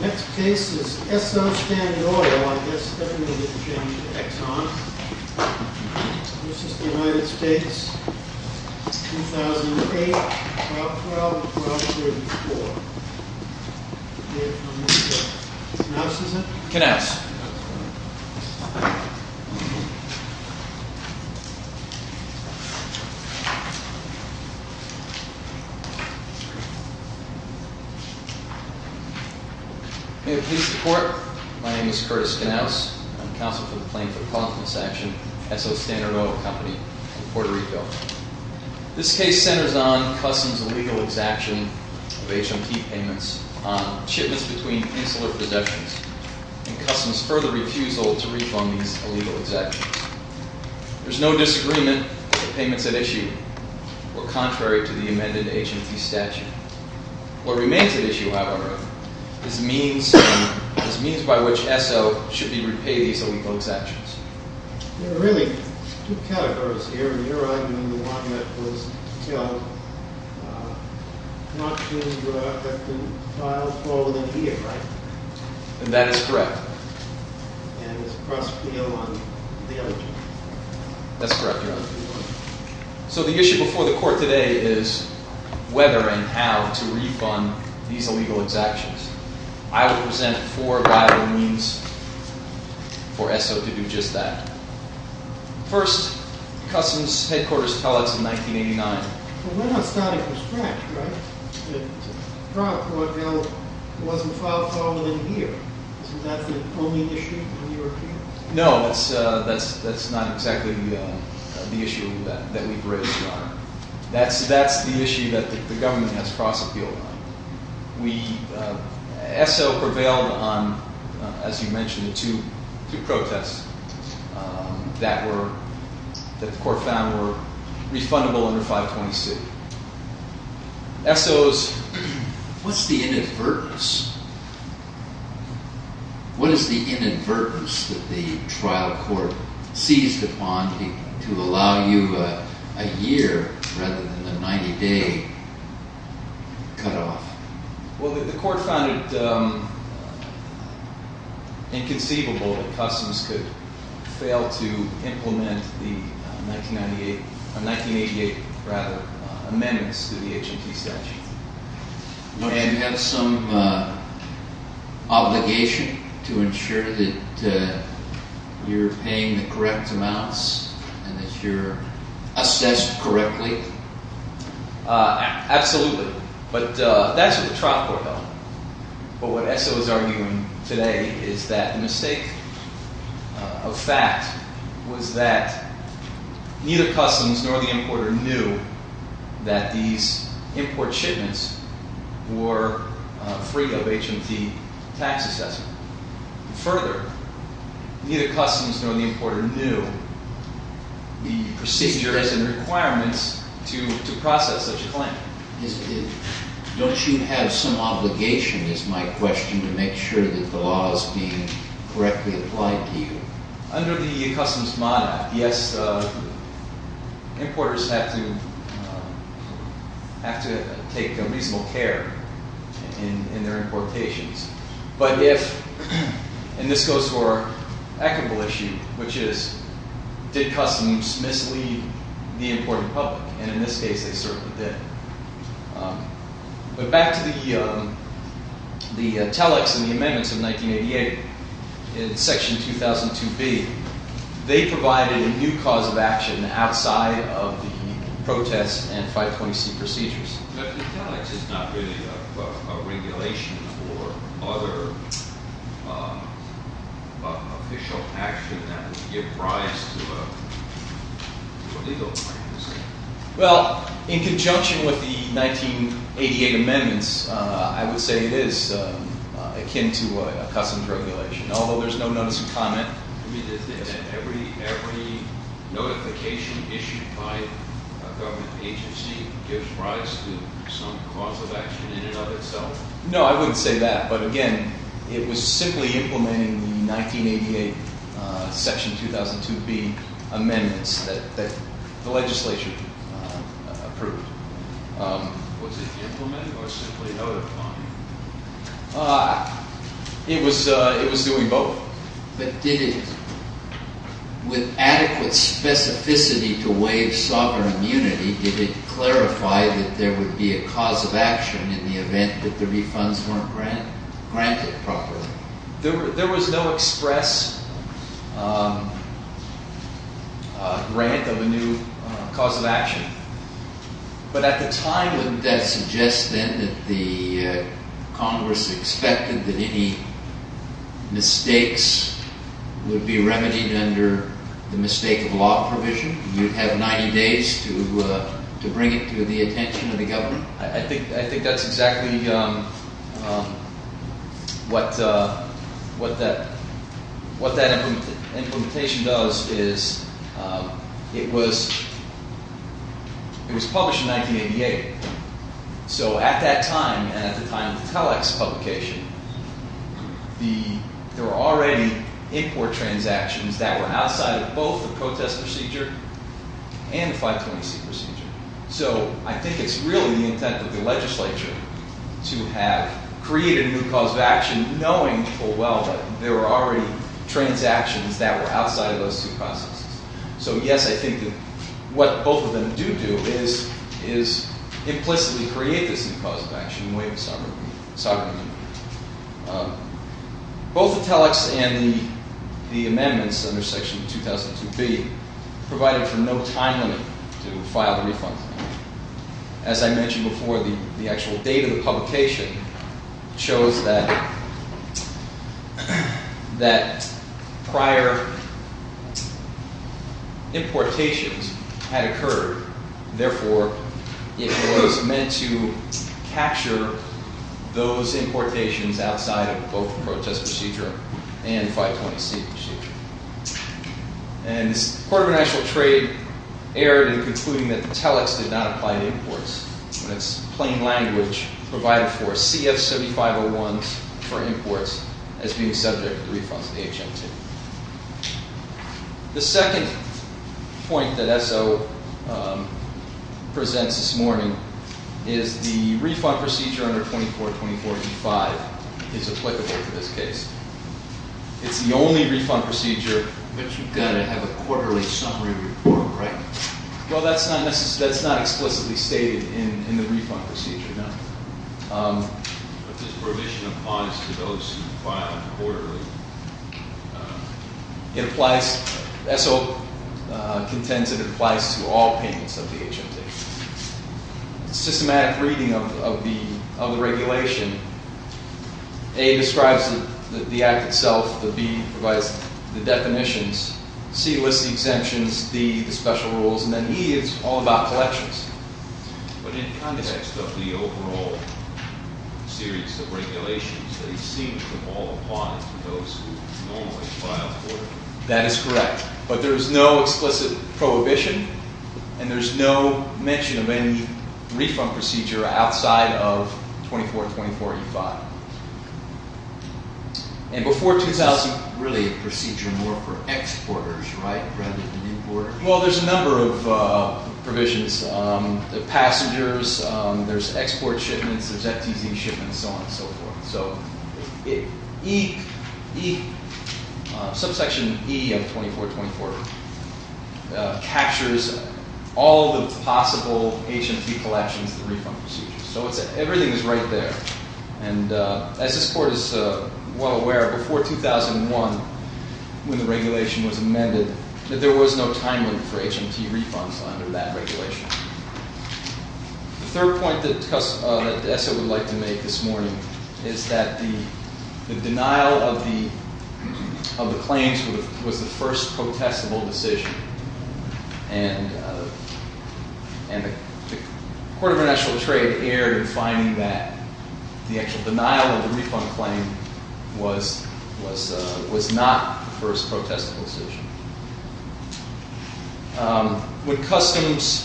Next case is ESSO Standard Oil v. Exxon This is the United States, 2008, Prop. 12 and Prop. 34 Knauss is it? Knauss May it please the court, my name is Curtis Knauss, I'm counsel for the plaintiff in this action, ESSO Standard Oil Company in Puerto Rico This case centers on Customs' illegal exaction of HMT payments on shipments between insular possessions and Customs' further refusal to refund these illegal exactions There's no disagreement that the payments at issue were contrary to the amended HMT statute What remains at issue, however, is means by which ESSO should be repaid these illegal exactions There are really two categories here, and you're arguing the one that was killed not too far within a year, right? And that is correct And it's a cross appeal on the other two? That's correct, Your Honor So the issue before the court today is whether and how to refund these illegal exactions I will present four viable means for ESSO to do just that First, Customs Headquarters tell us in 1989 Well, we're not starting from scratch, right? The prior court bill wasn't filed far within a year, so is that the only issue in your opinion? No, that's not exactly the issue that we've raised, Your Honor That's the issue that the government has cross appealed on ESSO prevailed on, as you mentioned, the two protests that the court found were refundable under 520C ESSO's... What's the inadvertence? What is the inadvertence that the trial court seized upon to allow you a year rather than a 90-day cutoff? Well, the court found it inconceivable that Customs could fail to implement the 1988 amendments to the HMT statute Do you have some obligation to ensure that you're paying the correct amounts and that you're assessed correctly? Absolutely, but that's what the trial court held But what ESSO is arguing today is that the mistake of fact was that neither Customs nor the importer knew that these import shipments were free of HMT tax assessment Further, neither Customs nor the importer knew the procedures and requirements to process such a claim Don't you have some obligation, is my question, to make sure that the law is being correctly applied to you? Under the Customs Mod Act, yes, importers have to take reasonable care in their importations But if, and this goes to our equitable issue, which is, did Customs mislead the imported public? And in this case, they certainly did But back to the Telex and the amendments of 1988, in section 2002B, they provided a new cause of action outside of the protest and 520C procedures But the Telex is not really a regulation for other official action that would give rise to a legal practice Well, in conjunction with the 1988 amendments, I would say it is akin to a Customs regulation, although there's no notice of comment Every notification issued by a government agency gives rise to some cause of action in and of itself? No, I wouldn't say that, but again, it was simply implementing the 1988 section 2002B amendments that the legislature approved Was it implemented or simply notified? It was doing both But did it, with adequate specificity to waive sovereign immunity, did it clarify that there would be a cause of action in the event that the refunds weren't granted properly? There was no express grant of a new cause of action But at the time, wouldn't that suggest then that the Congress expected that any mistakes would be remedied under the mistake of law provision? You'd have 90 days to bring it to the attention of the government? I think that's exactly what that implementation does It was published in 1988 So at that time, and at the time of the Telex publication, there were already import transactions that were outside of both the protest procedure and the 520C procedure So I think it's really the intent of the legislature to have created a new cause of action knowing full well that there were already transactions that were outside of those two processes So yes, I think that what both of them do do is implicitly create this new cause of action and waive sovereign immunity Both the Telex and the amendments under section 2002B provided for no time limit to file the refunds As I mentioned before, the actual date of the publication shows that prior importations had occurred Therefore, it was meant to capture those importations outside of both the protest procedure and the 520C procedure And the Court of International Trade erred in concluding that the Telex did not apply to imports And it's plain language provided for CF-7501s for imports as being subject to the refunds of the HM2 The second point that ESSO presents this morning is the refund procedure under 2424E5 is applicable to this case It's the only refund procedure- But you've got to have a quarterly summary report, right? Well, that's not explicitly stated in the refund procedure, no But this provision applies to those who file quarterly ESSO contends it applies to all payments of the HM2 It's a systematic reading of the regulation A describes the act itself, B provides the definitions, C lists the exemptions, D the special rules, and then E is all about collections But in context of the overall series of regulations, they seem to fall upon those who normally file quarterly That is correct, but there is no explicit prohibition And there's no mention of any refund procedure outside of 2424E5 And before 2000- This is really a procedure more for exporters, right? Well, there's a number of provisions The passengers, there's export shipments, there's FTZ shipments, so on and so forth So subsection E of 2424 captures all the possible HMT collections and refund procedures So everything is right there And as this court is well aware, before 2001, when the regulation was amended, there was no time limit for HMT refunds under that regulation The third point that ESSO would like to make this morning is that the denial of the claims was the first protestable decision And the Court of International Trade erred in finding that the actual denial of the refund claim was not the first protestable decision When customs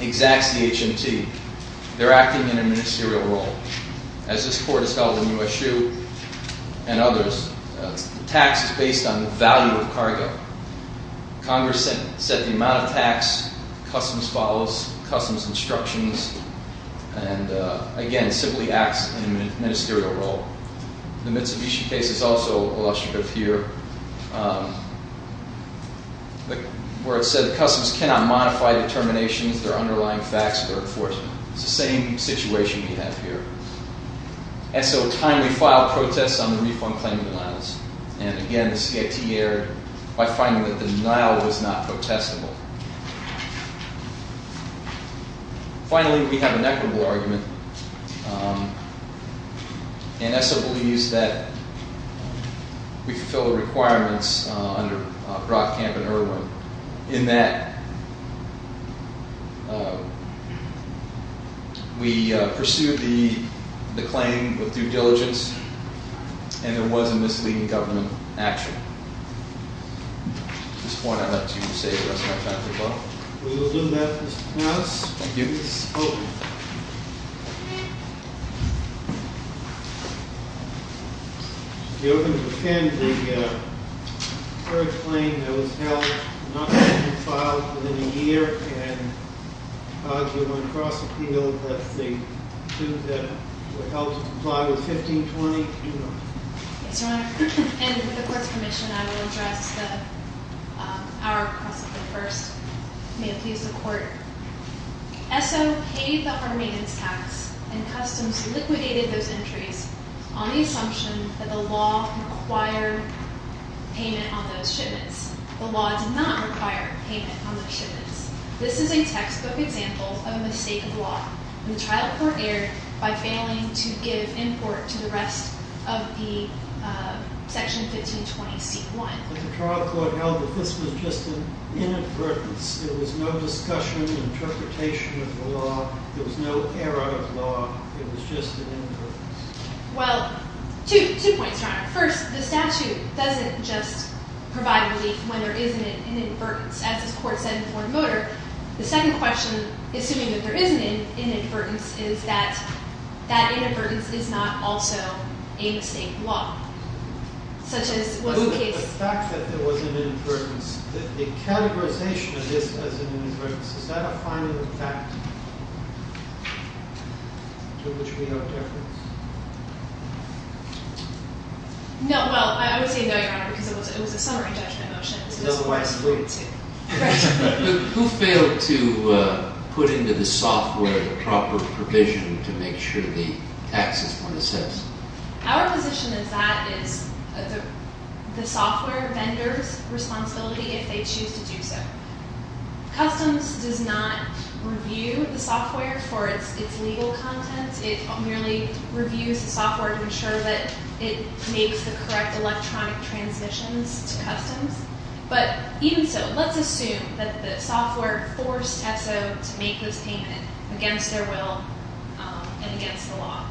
exacts the HMT, they're acting in a ministerial role As this court has held in USU and others, tax is based on the value of cargo Congress set the amount of tax, customs follows, customs instructions, and again, simply acts in a ministerial role The Mitsubishi case is also illustrative here Where it said that customs cannot modify determinations, their underlying facts, or enforcement It's the same situation we have here ESSO timely filed protests on the refund claim denials And again, the CIT erred by finding that the denial was not protestable Finally, we have an equitable argument And ESSO believes that we fulfilled the requirements under Brockcamp and Irwin In that we pursued the claim with due diligence, and there was a misleading government action At this point, I'd like to say the rest of my time is up We will do that, Mr. Thomas Thank you Mr. Spoke If you'll pretend the third claim that was held, not filed within a year And argued on cross-appeal that the suit that was held to comply was 1520 Yes, your honor And with the court's permission, I will address the hour of cross-appeal first May it please the court ESSO paid the Harmanian's tax, and customs liquidated those entries On the assumption that the law required payment on those shipments The law did not require payment on those shipments This is a textbook example of a mistake of law The trial court erred by failing to give import to the rest of the section 1520c1 But the trial court held that this was just an inadvertence There was no discussion, interpretation of the law There was no error of law It was just an inadvertence Well, two points, your honor First, the statute doesn't just provide relief when there isn't an inadvertence As the court said in Ford Motor The second question, assuming that there is an inadvertence Is that that inadvertence is not also a mistake of law The fact that there was an inadvertence The categorization of this as an inadvertence Is that a final fact to which we have deference? No, well, I would say no, your honor Because it was a summary judgment motion Otherwise, wait Who failed to put into the software the proper provision to make sure the taxes were assessed? Our position is that it's the software vendor's responsibility if they choose to do so Customs does not review the software for its legal contents It merely reviews the software to ensure that it makes the correct electronic transmissions to Customs But even so, let's assume that the software forced ESSO to make this payment Against their will and against the law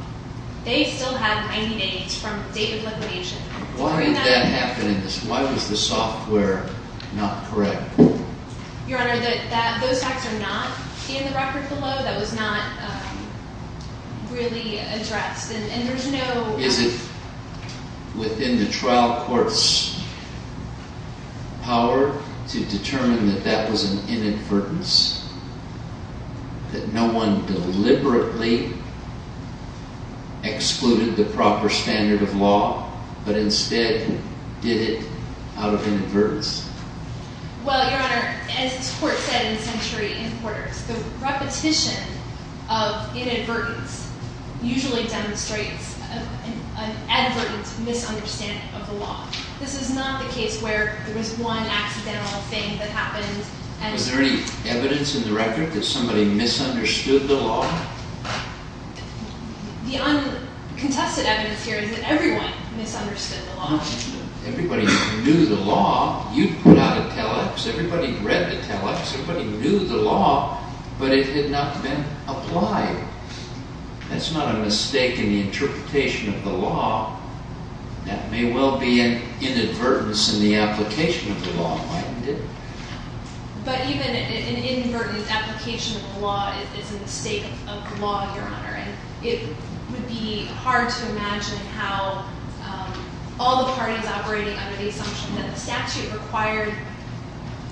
They still have 90 days from the date of liquidation Why did that happen? Why was the software not correct? Your honor, those facts are not in the record below That was not really addressed Is it within the trial court's power to determine that that was an inadvertence? That no one deliberately excluded the proper standard of law But instead did it out of inadvertence? Well, your honor, as the court said in Century and Quarters The repetition of inadvertence usually demonstrates an advertent misunderstanding of the law This is not the case where there was one accidental thing that happened Was there any evidence in the record that somebody misunderstood the law? The contested evidence here is that everyone misunderstood the law Everybody knew the law You put out a telex, everybody read the telex, everybody knew the law But it had not been applied That's not a mistake in the interpretation of the law That may well be an inadvertence in the application of the law, mightn't it? But even an inadvertent application of the law is a mistake of the law, your honor It would be hard to imagine how all the parties operating under the assumption that the statute required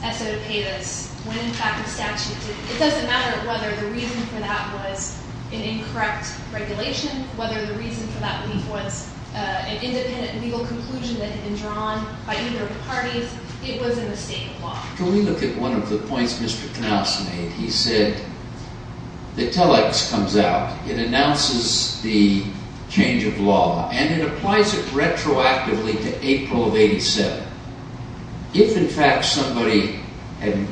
S.O. to pay this When in fact the statute did It doesn't matter whether the reason for that was an incorrect regulation Whether the reason for that was an independent legal conclusion that had been drawn by either of the parties It was a mistake of the law Can we look at one of the points Mr. Knauss made? He said the telex comes out, it announces the change of law And it applies it retroactively to April of 87 If in fact somebody had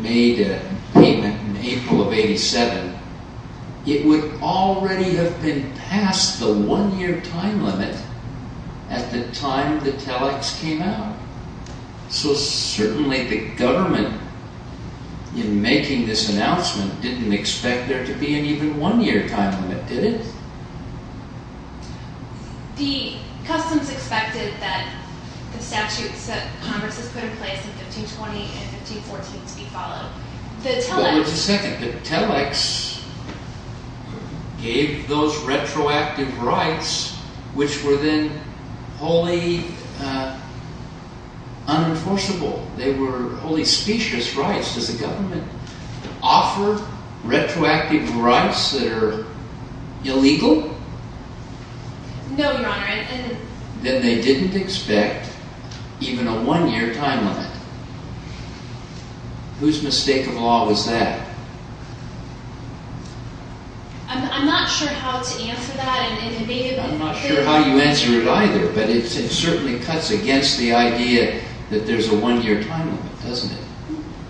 made a payment in April of 87 It would already have been past the one year time limit at the time the telex came out So certainly the government in making this announcement didn't expect there to be an even one year time limit, did it? The customs expected that the statutes that Congress has put in place in 1520 and 1514 to be followed But wait a second, the telex gave those retroactive rights which were then wholly unenforceable They were wholly specious rights Does the government offer retroactive rights that are illegal? No, your honor Then they didn't expect even a one year time limit Whose mistake of law was that? I'm not sure how to answer that I'm not sure how you answer it either But it certainly cuts against the idea that there's a one year time limit, doesn't it?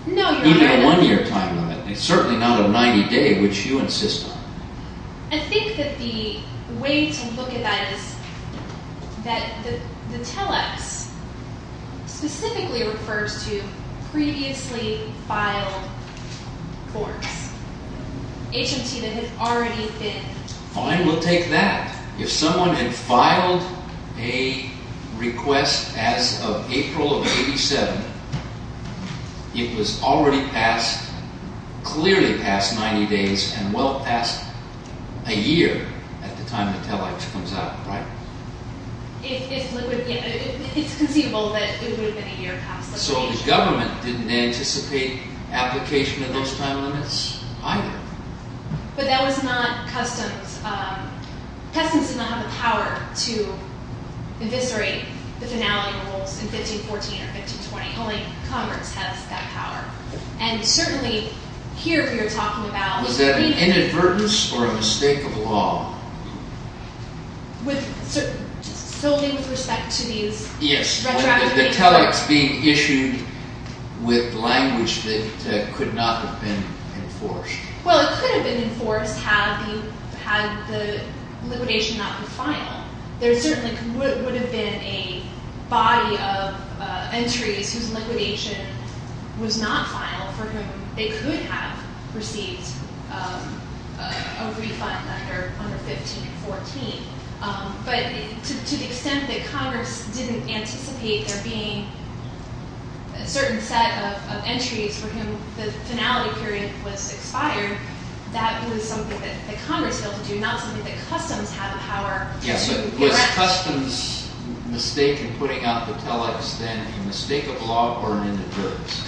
No, your honor Even a one year time limit, it's certainly not a 90 day which you insist on I think that the way to look at that is that the telex specifically refers to previously filed forms HMT that had already been Fine, we'll take that If someone had filed a request as of April of 87, it was already passed, clearly passed 90 days and well past a year at the time the telex comes out, right? It's conceivable that it would have been a year past So the government didn't anticipate application of those time limits either But that was not customs Customs did not have the power to eviscerate the finality rules in 1514 or 1520 Only Congress has that power And certainly here if you're talking about Was that an inadvertence or a mistake of law? With certainly with respect to these retroactive Yes, the telex being issued with language that could not have been enforced Well, it could have been enforced had the liquidation not been final There certainly would have been a body of entries whose liquidation was not final for whom they could have received a refund under 1514 But to the extent that Congress didn't anticipate there being a certain set of entries for whom the finality period was expired That was something that Congress failed to do, not something that customs had the power Yes, but was customs' mistake in putting out the telex then a mistake of law or an inadvertence?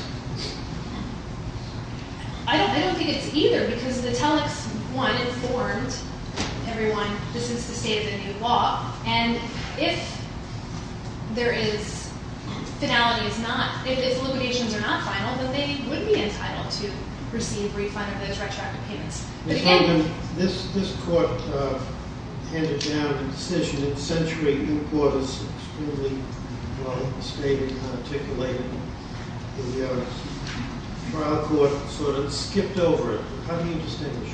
I don't think it's either because the telex, one, informed everyone this is the state of the new law And if there is, finality is not, if the liquidations are not final then they would be entitled to receive refund of those retroactive payments Ms. Hogan, this court handed down a decision that Century Importers extremely well stated and articulated The trial court sort of skipped over it, how do you distinguish?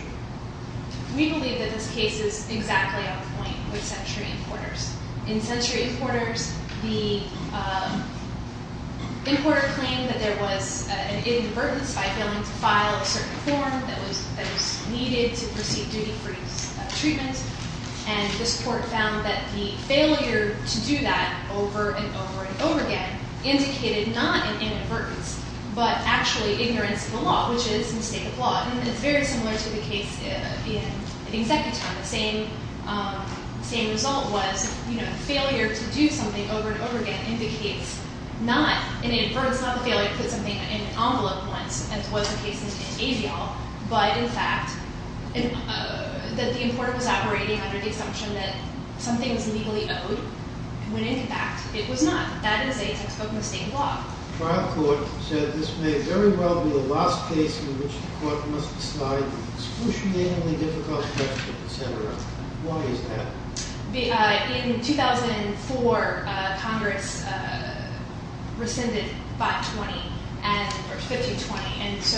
We believe that this case is exactly on point with Century Importers In Century Importers, the importer claimed that there was an inadvertence by failing to file a certain form that was needed to proceed duty-free treatment And this court found that the failure to do that over and over and over again indicated not an inadvertence But actually ignorance of the law, which is a mistake of law It's very similar to the case in the executive term, the same result was failure to do something over and over again indicates not an inadvertence Not the failure to put something in an envelope once, as was the case in AVIAL But in fact, that the importer was operating under the assumption that something was legally owed when in fact it was not The trial court said this may very well be the last case in which the court must decide the excruciatingly difficult question, etc. Why is that? In 2004, Congress rescinded 520, or 1520 So,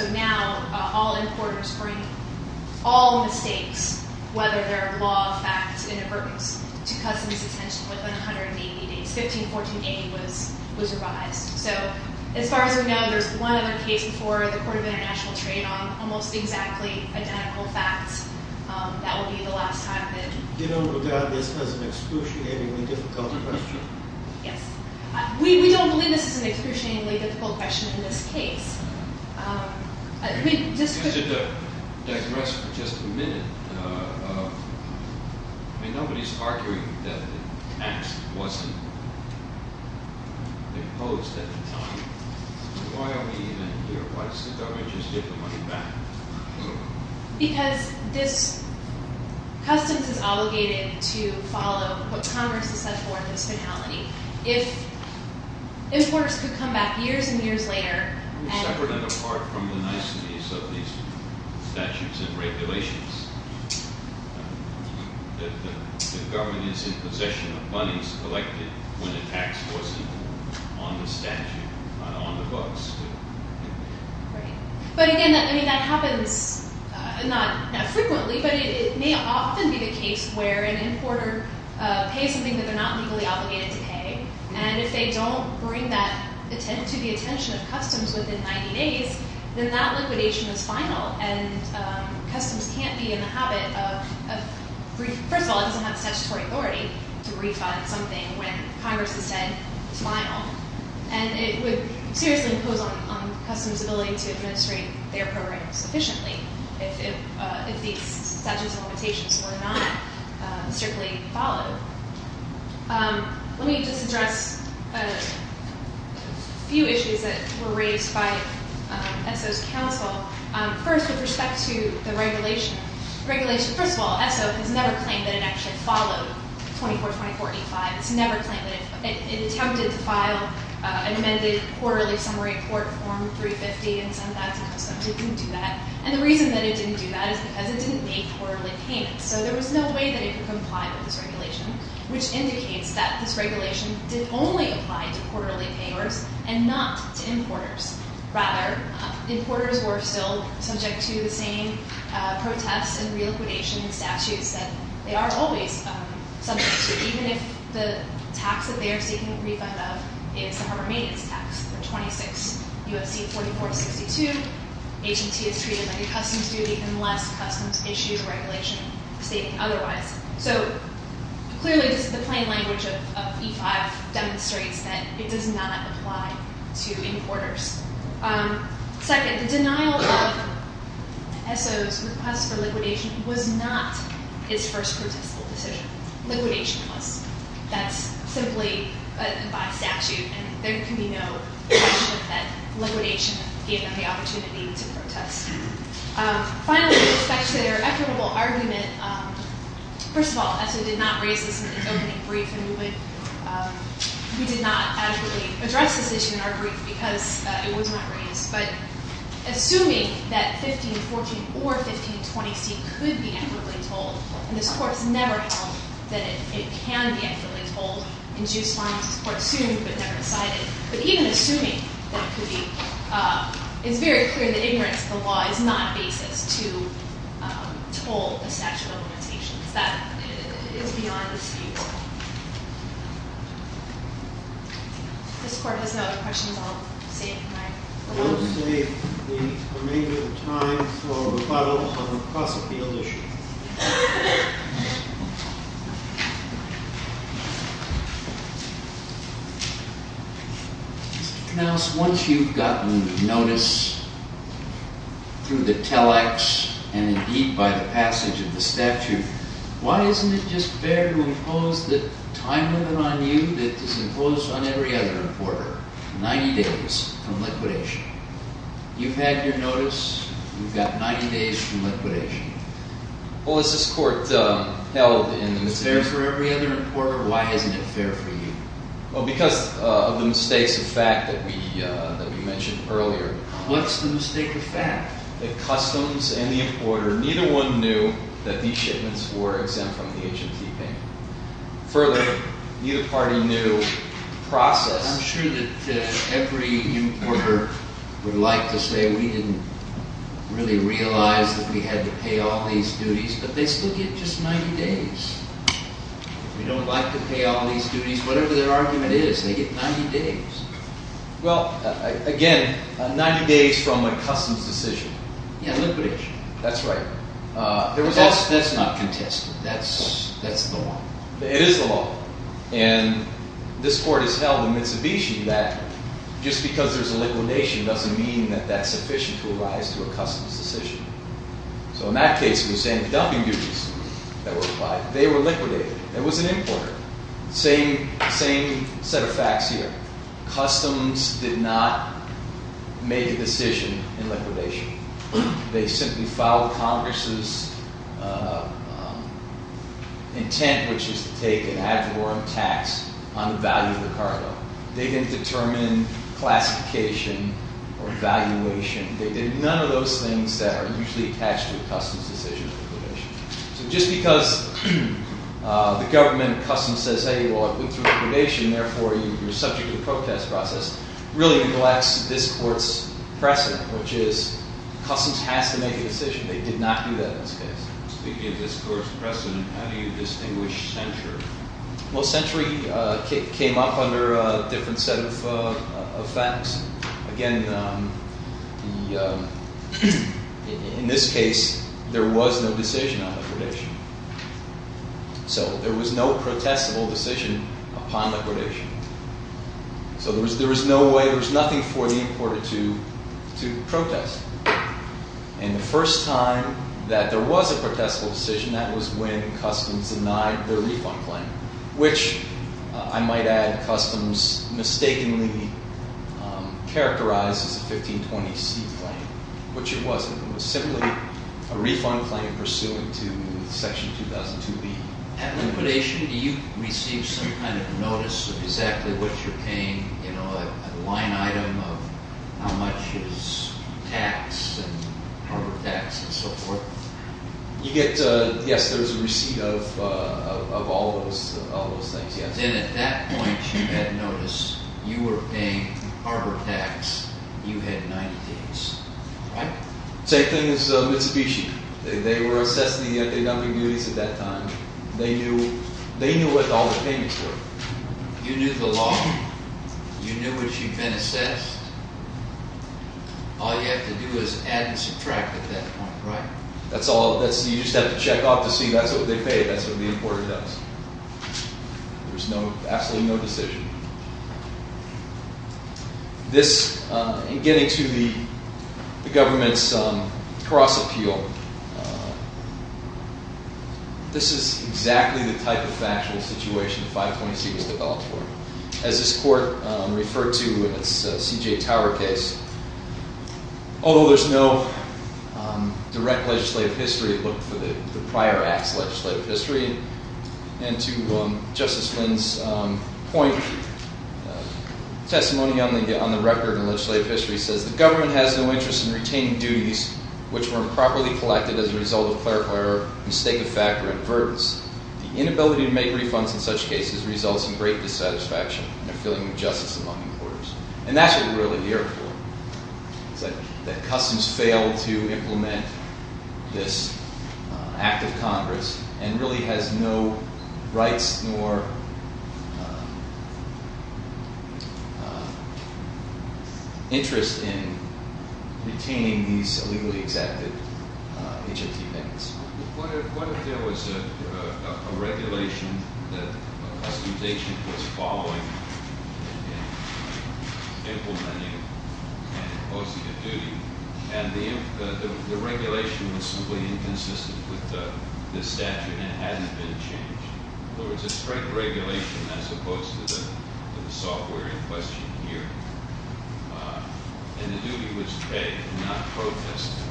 as far as we know, there's one other case before the court of international trade on almost exactly identical facts That would be the last time that... You don't regard this as an excruciatingly difficult question? Yes. We don't believe this is an excruciatingly difficult question in this case Just to digress for just a minute, nobody's arguing that the tax wasn't imposed at the time Why are we even here? Why doesn't the government just give the money back? Because this customs is obligated to follow what Congress has set forth as finality If importers could come back years and years later Separate and apart from the niceties of these statutes and regulations The government is in possession of monies collected when a tax wasn't on the statute, on the books But again, that happens, not frequently, but it may often be the case where an importer pays something that they're not legally obligated to pay And if they don't bring that to the attention of customs within 90 days, then that liquidation is final And customs can't be in the habit of... First of all, it doesn't have statutory authority to refund something when Congress has said it's final And it would seriously impose on customs' ability to administrate their program sufficiently If these statutes and limitations were not strictly followed Let me just address a few issues that were raised by ESSO's counsel First, with respect to the regulation First of all, ESSO has never claimed that it actually followed 24-24-85 It's never claimed that it attempted to file an amended quarterly summary court form 350 and send that to customs It didn't do that And the reason that it didn't do that is because it didn't make quarterly payments So there was no way that it could comply with this regulation Which indicates that this regulation did only apply to quarterly payers and not to importers Rather, importers were still subject to the same protests and reliquidation statutes that they are always subject to Even if the tax that they are seeking a refund of is the harbor maintenance tax for 26 U.S.C. 44-62 H&T is treated like a customs duty unless customs issues a regulation stating otherwise So clearly the plain language of E-5 demonstrates that it does not apply to importers Second, the denial of ESSO's request for liquidation was not its first participle decision Liquidation was That's simply by statute and there can be no question that liquidation gave them the opportunity to protest Finally, with respect to their equitable argument First of all, ESSO did not raise this in its opening brief And we did not adequately address this issue in our brief because it was not raised But assuming that 15-14 or 15-20C could be equitably told And this court has never held that it can be equitably told in due silence This court assumed but never decided But even assuming that could be It's very clear in the ignorance that the law is not a basis to hold a statute of limitations That is beyond dispute This court has no other questions? I'll save the remainder of time for rebuttals on across the field issues Mr. Knauss, once you've gotten notice through the Telex and indeed by the passage of the statute Why isn't it just fair to impose the time limit on you that is imposed on every other importer 90 days from liquidation You've had your notice, you've got 90 days from liquidation Well, as this court held Is it fair for every other importer? Why isn't it fair for you? Well, because of the mistakes of fact that we mentioned earlier What's the mistake of fact? The customs and the importer, neither one knew that these shipments were exempt from the HMT payment Further, neither party knew the process I'm sure that every importer would like to say we didn't really realize that we had to pay all these duties But they still get just 90 days We don't like to pay all these duties Whatever their argument is, they get 90 days Well, again, 90 days from a customs decision Yeah, liquidation That's right That's not contested, that's the law It is the law And this court has held in Mitsubishi that just because there's a liquidation doesn't mean that that's sufficient to arise to a customs decision So in that case, the same dumping duties that were applied, they were liquidated It was an importer Same set of facts here Customs did not make a decision in liquidation They simply followed Congress' intent, which is to take an ad valorem tax on the value of the cargo They didn't determine classification or valuation They did none of those things that are usually attached to a customs decision So just because the government customs says, hey, well, it went through liquidation, therefore you're subject to the protest process Really neglects this court's precedent, which is customs has to make a decision They did not do that in this case Speaking of this court's precedent, how do you distinguish century? Well, century came up under a different set of facts Again, in this case, there was no decision on liquidation So there was no protestable decision upon liquidation So there was no way, there was nothing for the importer to protest And the first time that there was a protestable decision, that was when customs denied their refund claim Which, I might add, customs mistakenly characterized as a 1520C claim Which it wasn't, it was simply a refund claim pursuant to Section 2002B At liquidation, do you receive some kind of notice of exactly what you're paying? You know, a line item of how much is tax and harbor tax and so forth? You get, yes, there's a receipt of all those things, yes Then at that point, you had notice you were paying harbor tax, you had 90 days, right? Same thing as Mitsubishi, they were assessing the dumping duties at that time They knew what all the payments were You knew the law, you knew what you've been assessed All you have to do is add and subtract at that point, right? That's all, you just have to check off to see, that's what they pay, that's what the importer does There's absolutely no decision This, in getting to the government's cross-appeal This is exactly the type of factual situation the 520C was developed for As this court referred to in its C.J. Tower case Although there's no direct legislative history, it looked for the prior act's legislative history And to Justice Flynn's point, testimony on the record and legislative history says The government has no interest in retaining duties which were improperly collected as a result of clarify or mistake of fact or advertence The inability to make refunds in such cases results in great dissatisfaction and a feeling of injustice among importers And that's what we're really here for That customs failed to implement this Act of Congress And really has no rights nor interest in retaining these illegally executed H.I.T. payments What if there was a regulation that customization was following in implementing and imposing a duty And the regulation was simply inconsistent with the statute and hadn't been changed There was a strict regulation as opposed to the software in question here And the duty was paid and not protested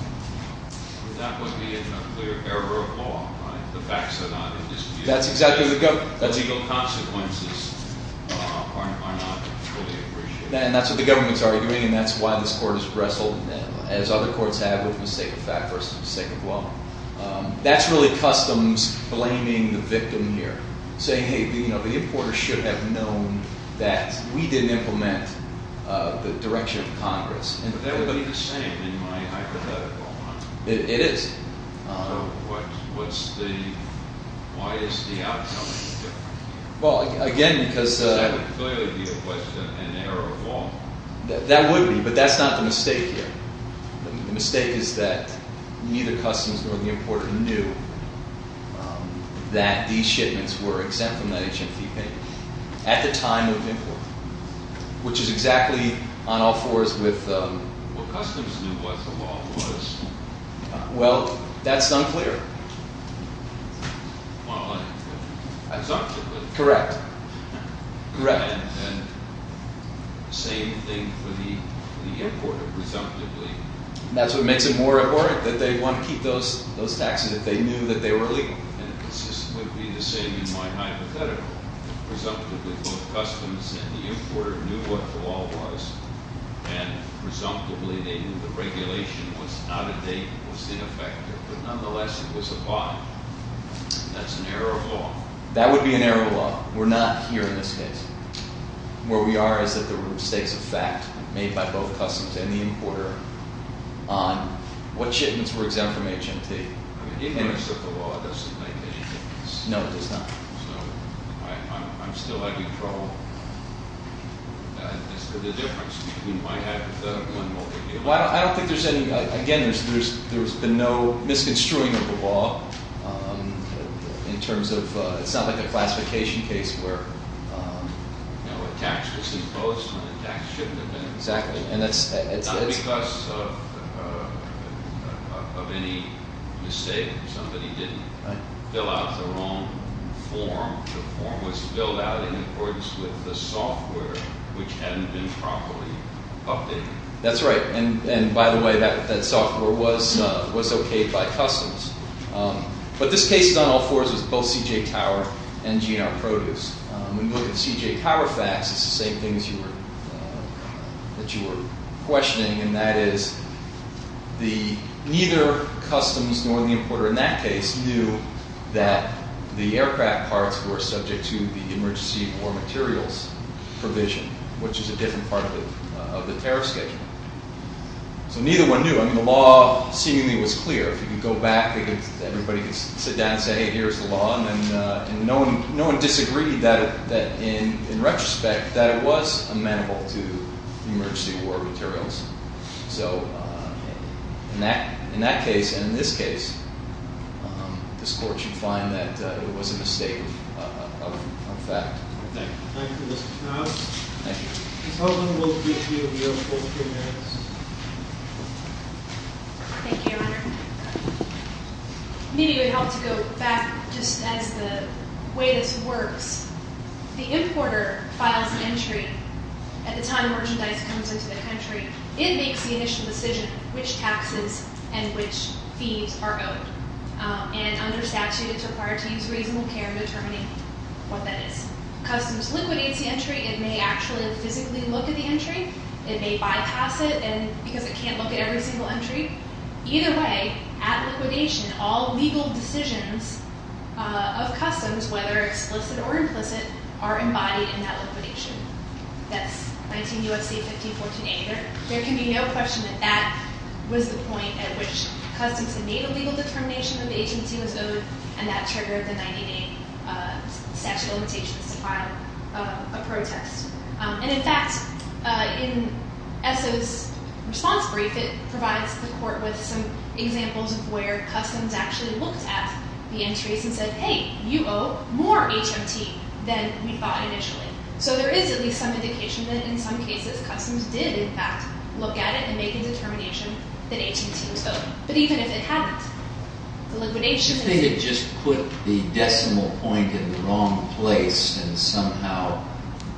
That would be a clear error of law, right? The facts are not in dispute The legal consequences are not fully appreciated And that's what the government is arguing and that's why this court is wrestling As other courts have with mistake of fact versus mistake of law That's really customs blaming the victim here Saying, hey, the importer should have known that we didn't implement the direction of Congress But that would be the same in my hypothetical, huh? It is So why is the outcome different? Well, again, because That would clearly be a question and error of law That would be, but that's not the mistake here The mistake is that neither customs nor the importer knew that these shipments were exempt from that H.I.T. payment At the time of import Which is exactly on all fours with What customs knew was the law was Well, that's unclear Correct Correct Same thing for the importer Presumably That's what makes it more important that they want to keep those those taxes if they knew that they were legal And this would be the same in my hypothetical Presumably both customs and the importer knew what the law was And presumably they knew the regulation was not a date, it was ineffective But nonetheless, it was a buy That's an error of law That would be an error of law We're not here in this case Where we are is that there were mistakes of fact made by both customs and the importer On what shipments were exempt from H.I.T. I mean, ignorance of the law doesn't make any difference No, it does not So, I'm still having trouble As to the difference between my hypothetical and what we're dealing with Well, I don't think there's any, again, there's been no misconstruing of the law In terms of, it's not like a classification case where You know, a tax was imposed on a tax shipment Exactly, and that's Not because of any mistake Somebody didn't fill out the wrong form The form was filled out in accordance with the software which hadn't been properly updated That's right, and by the way, that software was okayed by customs But this case on all fours was both C.J. Tower and G.N.R. Produce When you look at C.J. Tower facts, it's the same things that you were questioning And that is, neither customs nor the importer in that case knew That the aircraft parts were subject to the emergency war materials provision Which is a different part of the tariff schedule So neither one knew I mean, the law seemingly was clear If you could go back, everybody could sit down and say, hey, here's the law And no one disagreed that, in retrospect, that it was amenable to emergency war materials So, in that case, and in this case, this court should find that it was a mistake of fact Thank you Thank you, Mr. Knauss Thank you Ms. Hogan, we'll give you both your hands Thank you, Your Honor Maybe it would help to go back, just as the way this works The importer files entry at the time merchandise comes into the country It makes the initial decision which taxes and which fees are owed And under statute, it's required to use reasonable care in determining what that is Customs liquidates the entry It may actually physically look at the entry It may bypass it because it can't look at every single entry Either way, at liquidation, all legal decisions of customs, whether explicit or implicit Are embodied in that liquidation That's 19 U.S.C. 1514a There can be no question that that was the point at which customs made a legal determination That the agency was owed And that triggered the 1998 statute of limitations to file a protest And in fact, in ESSA's response brief It provides the court with some examples of where customs actually looked at the entries And said, hey, you owe more HMT than we thought initially So there is at least some indication that in some cases customs did in fact look at it And make a determination that HMT was owed But even if it hadn't, the liquidation If they had just put the decimal point in the wrong place And somehow,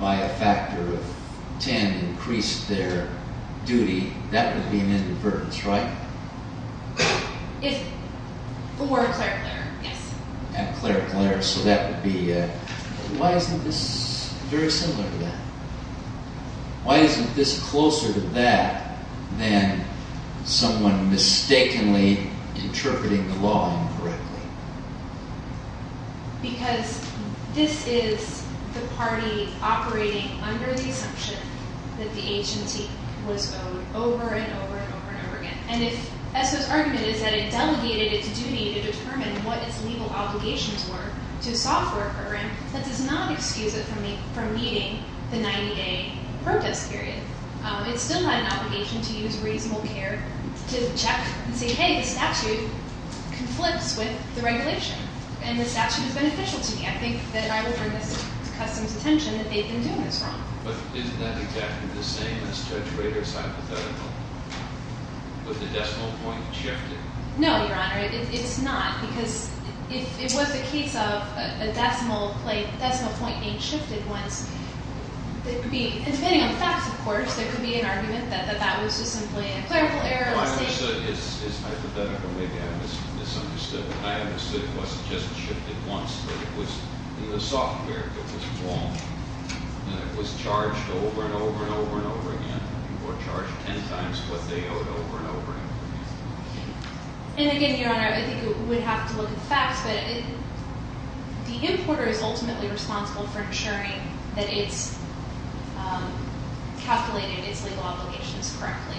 by a factor of 10, increased their duty That would be an inadvertence, right? For Claire Clare, yes At Claire Clare, so that would be... Why isn't this very similar to that? Why isn't this closer to that Than someone mistakenly interpreting the law incorrectly? Because this is the party operating under the assumption That the HMT was owed over and over and over and over again And if ESSA's argument is that it delegated its duty to determine what its legal obligations were To a software program That does not excuse it from meeting the 90-day protest period It still had an obligation to use reasonable care To check and say, hey, the statute conflicts with the regulation And the statute is beneficial to me I think that I would bring this to customs' attention that they've been doing this wrong But isn't that exactly the same as Judge Rader's hypothetical? With the decimal point shifted? No, Your Honor, it's not Because if it was the case of a decimal point being shifted once And depending on the facts, of course, there could be an argument that that was just simply a clerical error No, I understood his hypothetical, maybe I misunderstood it But I understood it wasn't just shifted once But it was in the software that was wrong And it was charged over and over and over and over again Or charged ten times what they owed over and over and over again And again, Your Honor, I think we would have to look at the facts But the importer is ultimately responsible for ensuring that it's calculated its legal obligations correctly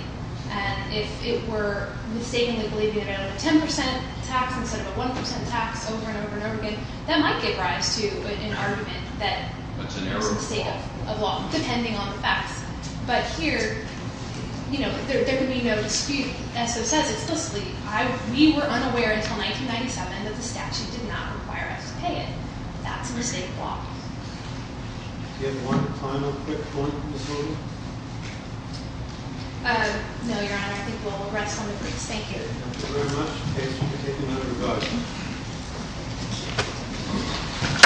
And if it were mistakenly believing that it owed a 10% tax instead of a 1% tax over and over and over again That might give rise to an argument that it was a mistake of law, depending on the facts But here, you know, there could be no dispute As it says, it's still sleeping We were unaware until 1997 that the statute did not require us to pay it That's a mistake of law Do you have one final quick point, Ms. Hogan? No, Your Honor, I think we'll rest on the briefs Thank you Thank you very much